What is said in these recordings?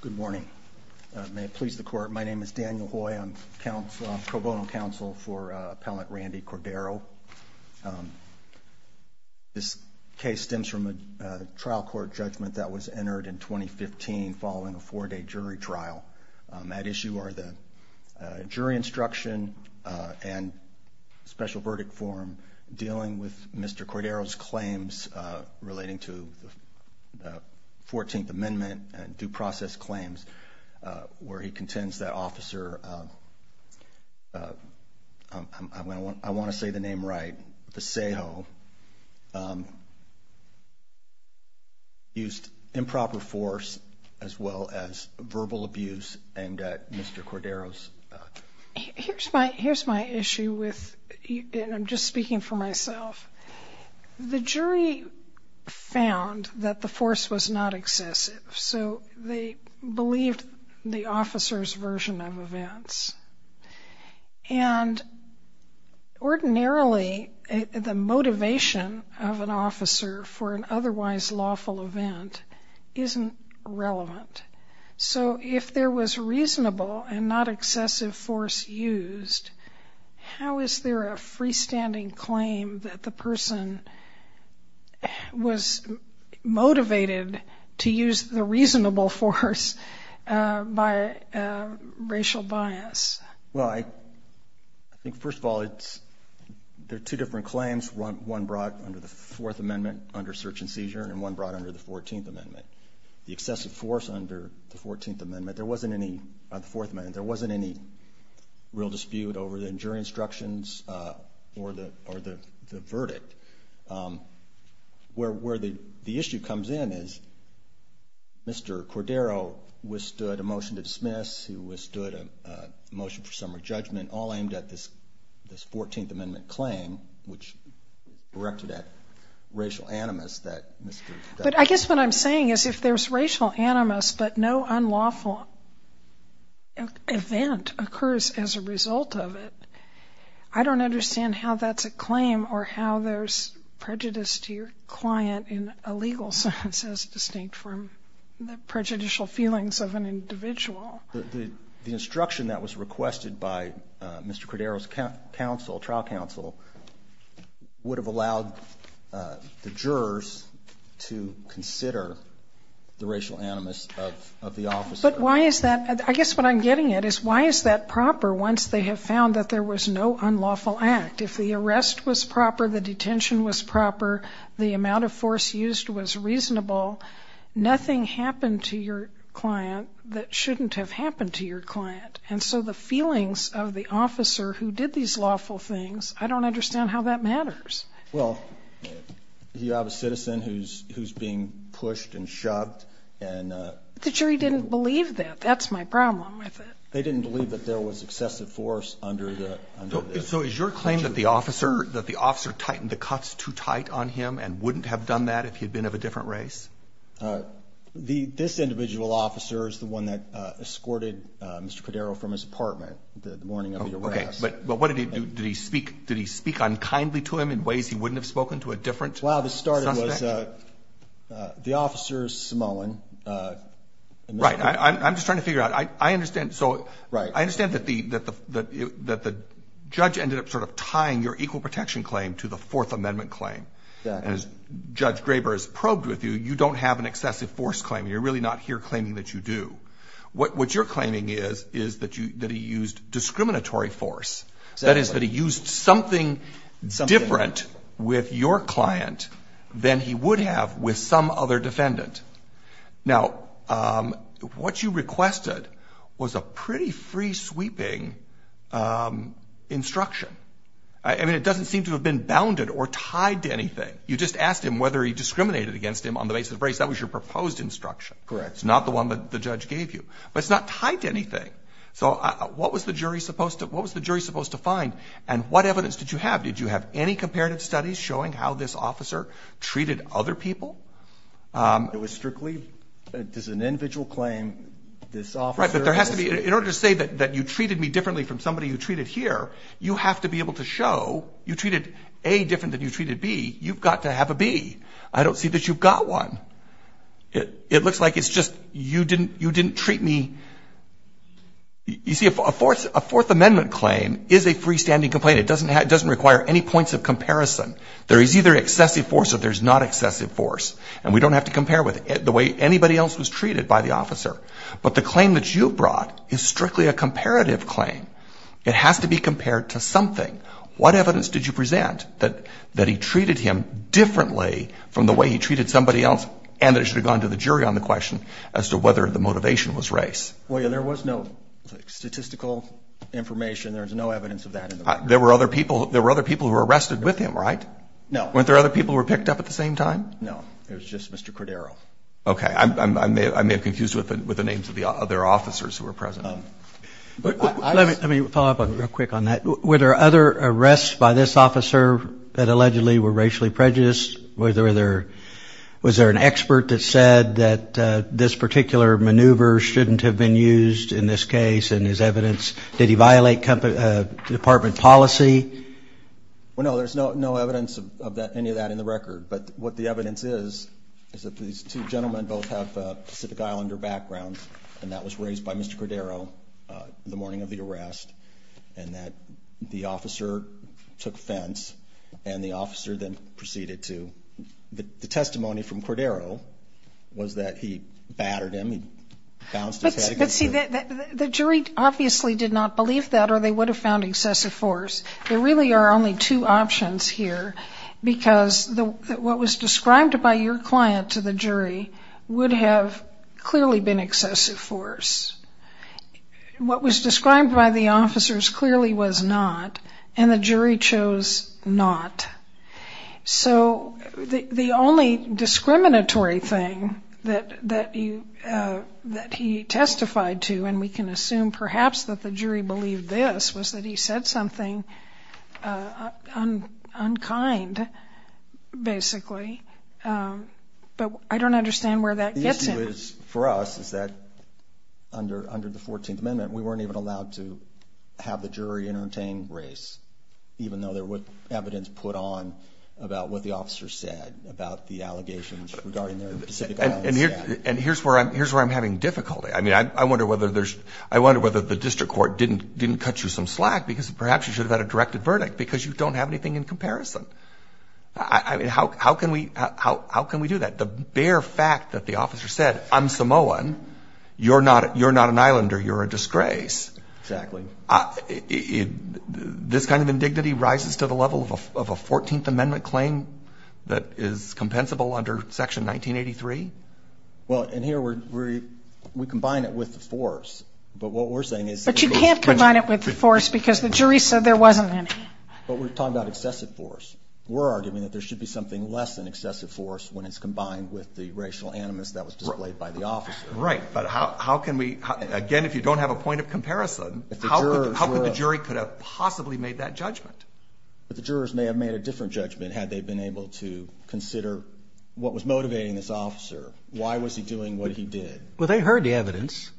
Good morning. May it please the court. My name is Daniel Hoy. I'm Pro Bono counsel for Appellant Randy Cordero. This case stems from a trial court judgment that was entered in 2015 following a four-day jury trial. That issue are the jury instruction and special verdict form dealing with Mr. Cordero's claims relating to the four-day jury trial. The jury found that Mr. Cordero's claims relating to the 14th amendment and due process claims where he contends that officer, I want to say the name right, Vasejo, used improper force as well as verbal abuse aimed at Mr. Cordero. Here's my issue and I'm just speaking for myself. The jury found that the force was not excessive so they believed the officer's version of events. And ordinarily the motivation of an officer for an otherwise lawful event isn't relevant. So if there was reasonable and not excessive force used, how is there a freestanding claim that the person was motivated to use the reasonable force by racial bias? Well, I think first of all, there are two different claims. One brought under the fourth amendment under search and seizure and one brought under the 14th amendment. The excessive force under the 14th amendment, there wasn't any real dispute over the jury instructions or the verdict. But where the issue comes in is Mr. Cordero withstood a motion to dismiss, he withstood a motion for summary judgment, all aimed at this 14th amendment claim which directed at racial animus that Mr. Vasejo. But I guess what I'm saying is if there's racial animus but no unlawful event occurs as a result of it, I don't understand how that's a claim or how there's prejudice to your client in a legal sense as distinct from the prejudicial feelings of an individual. The instruction that was requested by Mr. Cordero's trial counsel would have allowed the jurors to consider the racial animus of the officer. But why is that? I guess what I'm getting at is why is that proper once they have found that there was no unlawful act? If the arrest was proper, the detention was proper, the amount of force used was reasonable, nothing happened to your client that shouldn't have happened to your client. And so the feelings of the officer who did these lawful things, I don't understand how that matters. Well, you have a citizen who's being pushed and shoved and The jury didn't believe that. That's my problem with it. They didn't believe that there was excessive force under the So is your claim that the officer tightened the cuffs too tight on him and wouldn't have done that if he'd been of a different race? This individual officer is the one that escorted Mr. Cordero from his apartment the morning of the arrest. Okay. But what did he do? Did he speak unkindly to him in ways he wouldn't have spoken to a different suspect? The officer is Samoan. Right. I'm just trying to figure out. I understand. So I understand that the judge ended up sort of tying your equal protection claim to the Fourth Amendment claim. And as Judge Graber has probed with you, you don't have an excessive force claim. You're really not here claiming that you do. What you're claiming is that he used discriminatory force. That is that he used something different with your client than he would have with some other defendant. Now, what you requested was a pretty free-sweeping instruction. I mean, it doesn't seem to have been bounded or tied to anything. You just asked him whether he discriminated against him on the basis of race. That was your proposed instruction. Correct. It's not the one that the judge gave you. But it's not tied to anything. So what was the jury supposed to find, and what evidence did you have? Did you have any comparative studies showing how this officer treated other people? It was strictly just an individual claim. Right. But in order to say that you treated me differently from somebody you treated here, you have to be able to show you treated A different than you treated B. You've got to have a B. I don't see that you've got one. It looks like it's just you didn't treat me. You see, a Fourth Amendment claim is a freestanding complaint. It doesn't require any points of comparison. There is either excessive force or there's not excessive force. And we don't have to compare with it the way anybody else was treated by the officer. But the claim that you brought is strictly a comparative claim. It has to be compared to something. What evidence did you present that he treated him differently from the way he treated somebody else and that it should have gone to the jury on the question as to whether the motivation was race? Well, there was no statistical information. There is no evidence of that. There were other people who were arrested with him, right? No. Weren't there other people who were picked up at the same time? No. It was just Mr. Cordero. Okay. I may have confused it with the names of the other officers who were present. Let me follow up real quick on that. Were there other arrests by this officer that allegedly were racially prejudiced? Was there an expert that said that this particular maneuver shouldn't have been used in this case in his evidence? Did he violate department policy? Well, no. But what the evidence is is that these two gentlemen both have Pacific Islander backgrounds, and that was raised by Mr. Cordero the morning of the arrest, and that the officer took offense, and the officer then proceeded to the testimony from Cordero was that he battered him. He bounced his head against him. But, see, the jury obviously did not believe that or they would have found excessive force. There really are only two options here because what was described by your client to the jury would have clearly been excessive force. What was described by the officers clearly was not, and the jury chose not. So the only discriminatory thing that he testified to, and we can assume perhaps that the jury believed this, was that he said something unkind, basically. But I don't understand where that gets him. The issue is, for us, is that under the 14th Amendment, we weren't even allowed to have the jury entertain race, even though there was evidence put on about what the officer said about the allegations regarding their Pacific Island status. And here's where I'm having difficulty. I mean, I wonder whether the district court didn't cut you some slack because perhaps you should have had a directed verdict because you don't have anything in comparison. I mean, how can we do that? The bare fact that the officer said, I'm Samoan, you're not an islander, you're a disgrace. Exactly. This kind of indignity rises to the level of a 14th Amendment claim that is compensable under Section 1983? Well, and here, we combine it with the force. But what we're saying is that it goes to the judge. But you can't combine it with the force because the jury said there wasn't any. But we're talking about excessive force. We're arguing that there should be something less than excessive force when it's combined with the racial animus that was displayed by the officer. Right. But how can we, again, if you don't have a point of comparison, how could the jury could have possibly made that judgment? But the jurors may have made a different judgment had they been able to consider what was motivating this officer. Why was he doing what he did? Well, they heard the evidence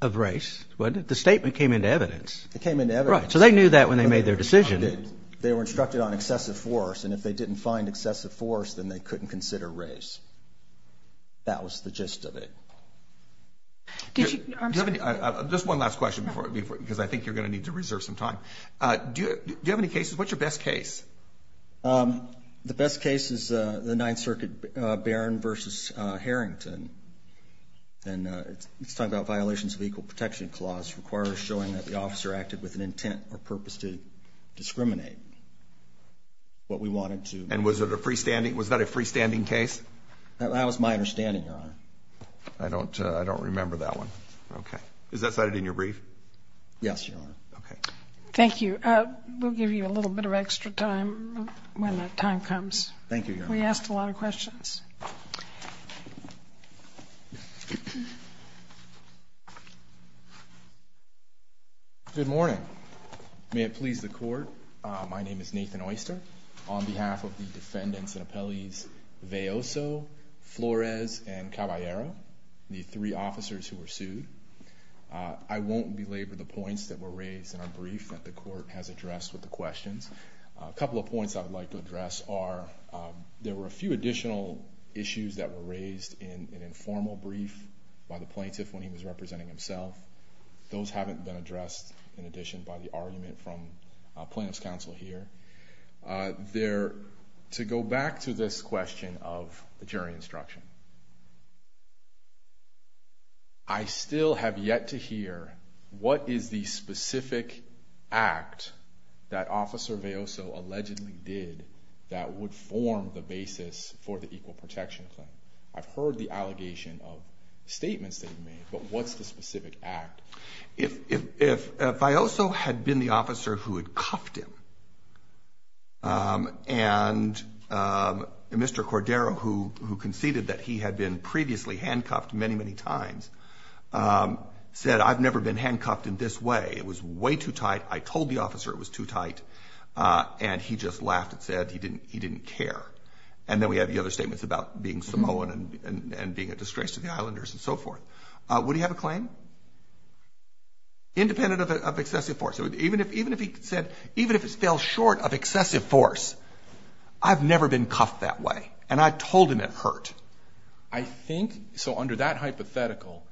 of race. The statement came into evidence. It came into evidence. Right. So they knew that when they made their decision. They were instructed on excessive force. And if they didn't find excessive force, then they couldn't consider race. That was the gist of it. I'm sorry. Just one last question because I think you're going to need to reserve some time. Do you have any cases? What's your best case? The best case is the Ninth Circuit Barron v. Harrington. And it's talking about violations of equal protection clause requiring showing that the officer acted with an intent or purpose to discriminate what we wanted to. And was that a freestanding case? That was my understanding, Your Honor. I don't remember that one. Okay. Is that cited in your brief? Yes, Your Honor. Okay. Thank you. We'll give you a little bit of extra time when the time comes. Thank you, Your Honor. We asked a lot of questions. Good morning. May it please the Court, my name is Nathan Oyster. On behalf of the defendants and appellees, Veoso, Flores, and Caballero, the three officers who were sued, I won't belabor the points that were raised in our brief that the Court has addressed with the questions. A couple of points I would like to address are there were a few additional issues that were raised in an informal brief by the plaintiff when he was representing himself. Those haven't been addressed, in addition, by the argument from plaintiff's counsel here. To go back to this question of the jury instruction, I still have yet to hear what is the specific act that Officer Veoso allegedly did that would form the basis for the equal protection claim. I've heard the allegation of statements that he made, but what's the specific act? If Veoso had been the officer who had cuffed him, and Mr. Cordero, who conceded that he had been previously handcuffed many, many times, said, I've never been handcuffed in this way, it was way too tight, I told the officer it was too tight, and he just laughed and said he didn't care. And then we have the other statements about being Samoan and being a disgrace to the islanders and so forth. Would he have a claim? Independent of excessive force. Even if he said, even if it fell short of excessive force, I've never been cuffed that way, and I told him it hurt. I think, so under that hypothetical,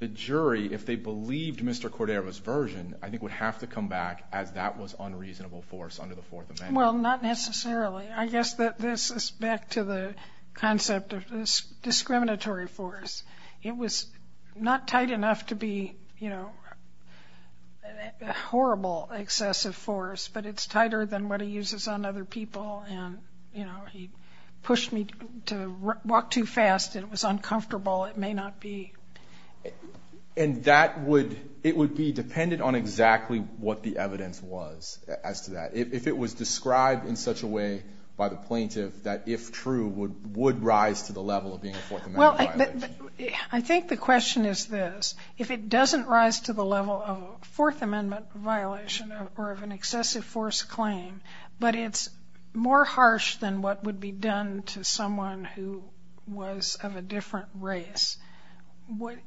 the jury, if they believed Mr. Cordero's version, I think would have to come back as that was unreasonable force under the Fourth Amendment. Well, not necessarily. I guess that this is back to the concept of discriminatory force. It was not tight enough to be, you know, horrible excessive force, but it's tighter than what he uses on other people, and, you know, he pushed me to walk too fast and it was uncomfortable. It may not be. And that would, it would be dependent on exactly what the evidence was as to that. If it was described in such a way by the plaintiff that, if true, would rise to the level of being a Fourth Amendment violation. Well, I think the question is this. If it doesn't rise to the level of a Fourth Amendment violation or of an excessive force claim, but it's more harsh than what would be done to someone who was of a different race,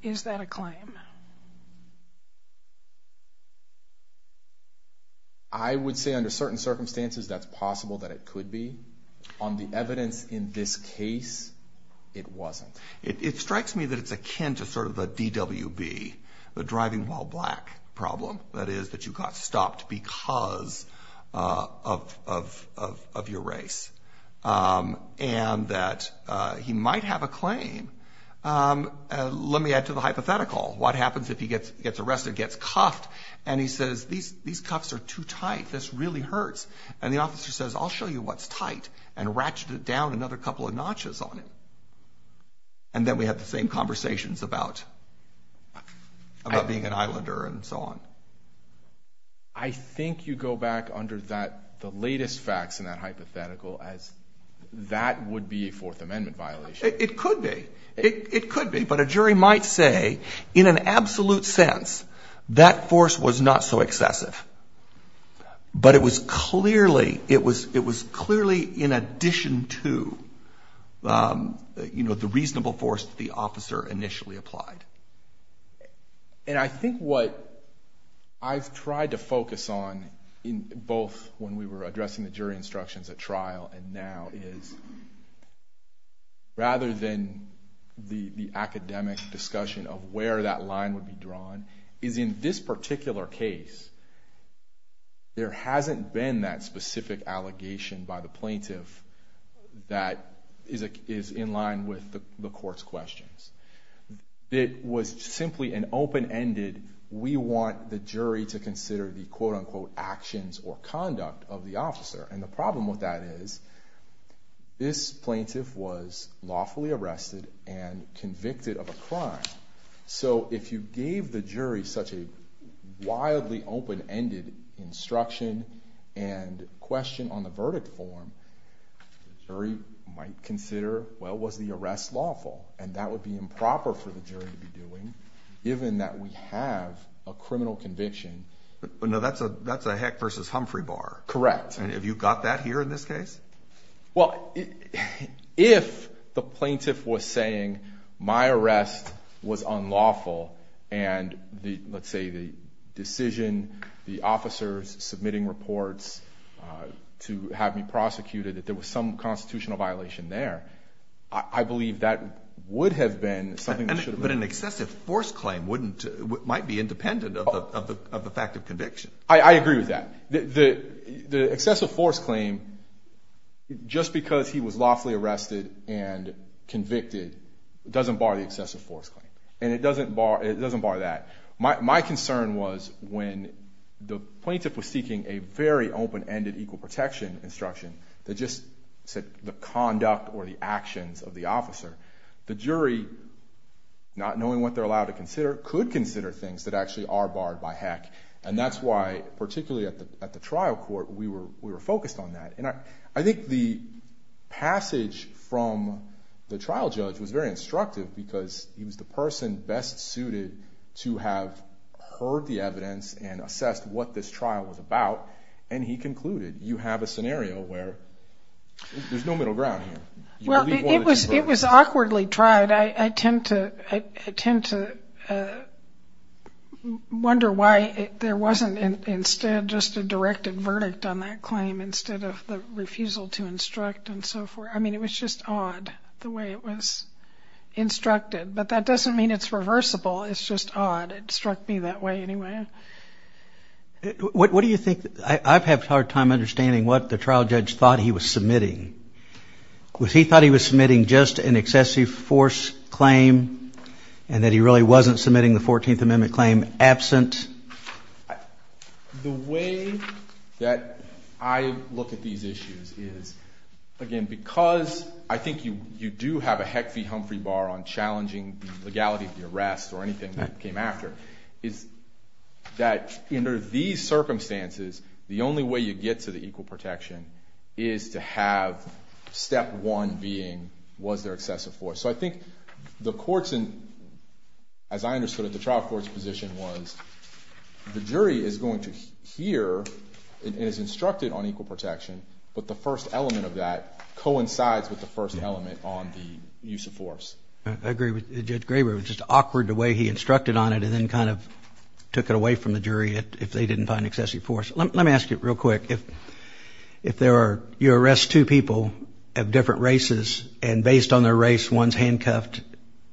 is that a claim? I would say under certain circumstances that's possible that it could be. On the evidence in this case, it wasn't. It strikes me that it's akin to sort of a DWB, the driving while black problem. That is that you got stopped because of your race and that he might have a claim. Let me add to the hypothetical. What happens if he gets arrested, gets cuffed, and he says, these cuffs are too tight. This really hurts. And the officer says, I'll show you what's tight, and ratcheted down another couple of notches on him. And then we have the same conversations about being an Islander and so on. I think you go back under the latest facts in that hypothetical as that would be a Fourth Amendment violation. It could be. It could be. But a jury might say, in an absolute sense, that force was not so excessive. But it was clearly in addition to, you know, the reasonable force that the officer initially applied. And I think what I've tried to focus on, both when we were addressing the jury instructions at trial and now, is rather than the academic discussion of where that line would be drawn, is in this particular case, there hasn't been that specific allegation by the plaintiff that is in line with the court's questions. It was simply an open-ended, we want the jury to consider the quote-unquote actions or conduct of the officer. And the problem with that is this plaintiff was lawfully arrested and convicted of a crime. So if you gave the jury such a wildly open-ended instruction and question on the verdict form, the jury might consider, well, was the arrest lawful? And that would be improper for the jury to be doing, given that we have a criminal conviction. But no, that's a Heck versus Humphrey bar. Correct. And have you got that here in this case? Well, if the plaintiff was saying my arrest was unlawful and let's say the decision, the officers submitting reports to have me prosecuted, that there was some constitutional violation there, I believe that would have been something that should have been. But an excessive force claim might be independent of the fact of conviction. I agree with that. The excessive force claim, just because he was lawfully arrested and convicted, doesn't bar the excessive force claim. And it doesn't bar that. My concern was when the plaintiff was seeking a very open-ended equal protection instruction that just said the conduct or the actions of the officer, the jury, not knowing what they're allowed to consider, could consider things that actually are barred by Heck. And that's why, particularly at the trial court, we were focused on that. And I think the passage from the trial judge was very instructive because he was the person best suited to have heard the evidence and assessed what this trial was about, and he concluded, you have a scenario where there's no middle ground here. Well, it was awkwardly tried. I tend to wonder why there wasn't, instead, just a directed verdict on that claim instead of the refusal to instruct and so forth. I mean, it was just odd the way it was instructed. But that doesn't mean it's reversible. It's just odd. It struck me that way anyway. What do you think? I've had a hard time understanding what the trial judge thought he was submitting. Was he thought he was submitting just an excessive force claim and that he really wasn't submitting the 14th Amendment claim absent? The way that I look at these issues is, again, because I think you do have a Heck v. Humphrey bar on challenging the legality of the arrest or anything that came after, is that under these circumstances, the only way you get to the equal protection is to have step one being, was there excessive force? So I think the courts, as I understood it, the trial court's position was the jury is going to hear and is instructed on equal protection, but the first element of that coincides with the first element on the use of force. I agree with Judge Graber. It was just awkward the way he instructed on it and then kind of took it away from the jury if they didn't find excessive force. Let me ask you real quick, if there are, you arrest two people of different races and based on their race, one's handcuffed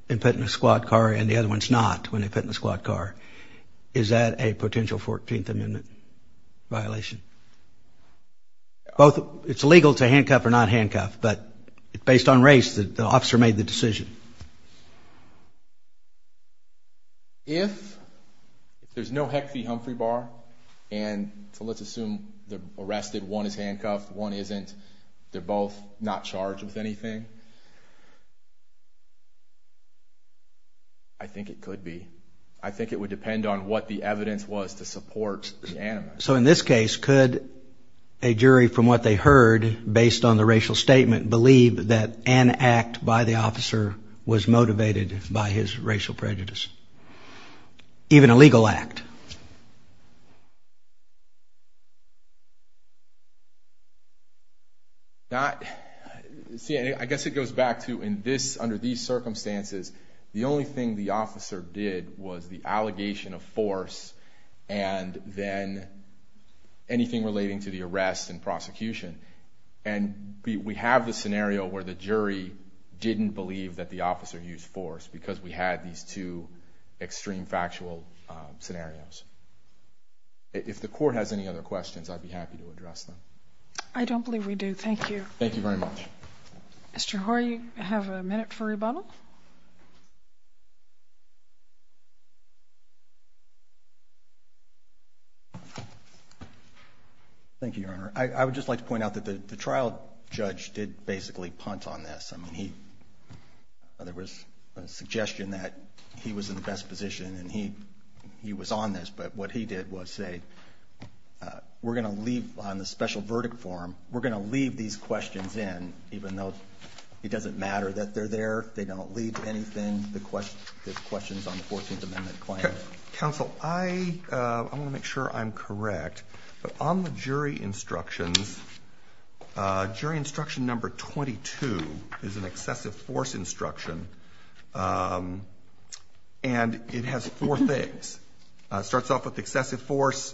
and put in a squad car and the other one's not when they put in a squad car, is that a potential 14th Amendment violation? It's legal to handcuff or not handcuff, but based on race, the officer made the decision. If there's no Hecht v. Humphrey bar, and so let's assume they're arrested, one is handcuffed, one isn't, they're both not charged with anything, I think it could be. I think it would depend on what the evidence was to support the animus. So in this case, could a jury from what they heard based on the racial statement believe that an act by the officer was motivated by his racial prejudice, even a legal act? Not, I guess it goes back to in this, under these circumstances, the only thing the officer did was the allegation of force and then anything relating to the arrest and prosecution. And we have the scenario where the jury didn't believe that the officer used force because we had these two extreme factual scenarios. If the court has any other questions, I'd be happy to address them. I don't believe we do. Thank you. Thank you very much. Mr. Hoare, you have a minute for rebuttal. Thank you, Your Honor. I would just like to point out that the trial judge did basically punt on this. I mean, there was a suggestion that he was in the best position and he was on this, but what he did was say, we're going to leave on the special verdict form. We're going to leave these questions in, even though it doesn't matter that they're there, they don't lead to anything. The question, there's questions on the 14th amendment claim. Counsel, I want to make sure I'm correct, but on the jury instructions, jury instruction number 22 is an excessive force instruction. And it has four things. It starts off with excessive force.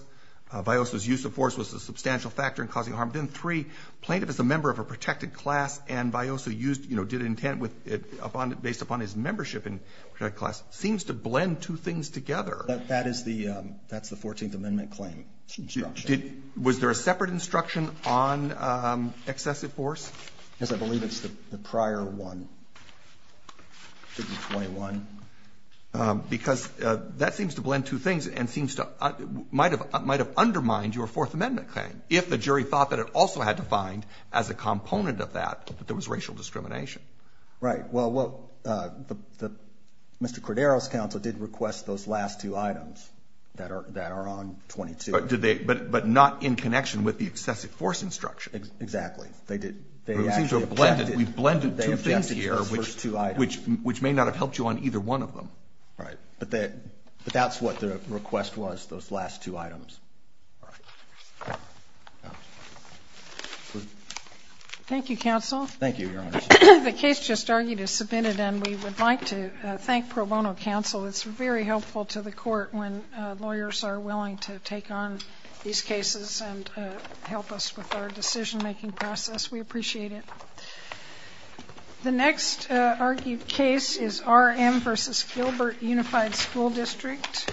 Vyosa's use of force was a substantial factor in causing harm. Then three plaintiff is a member of a protected class and Vyosa used, you know, did intent with it based upon his membership in class seems to blend two things together. That is the, that's the 14th amendment claim. Was there a separate instruction on excessive force? Yes, I believe it's the prior one. Because that seems to blend two things and seems to, might have undermined your fourth amendment claim. If the jury thought that it also had defined as a component of that, that there was racial discrimination. Right. Well, Mr. Cordero's counsel did request those last two items that are, that are on 22. But did they, but, but not in connection with the excessive force instruction. Exactly. They did. We've blended two things here, which, which may not have helped you on either one of them. Right. But that, but that's what the request was. Those last two items. Thank you, counsel. Thank you. The case just argued is submitted and we would like to thank pro bono counsel. It's very helpful to the court when lawyers are willing to take on these cases and help us with our decision-making process. We appreciate it. The next argued case is our M versus Gilbert unified school district.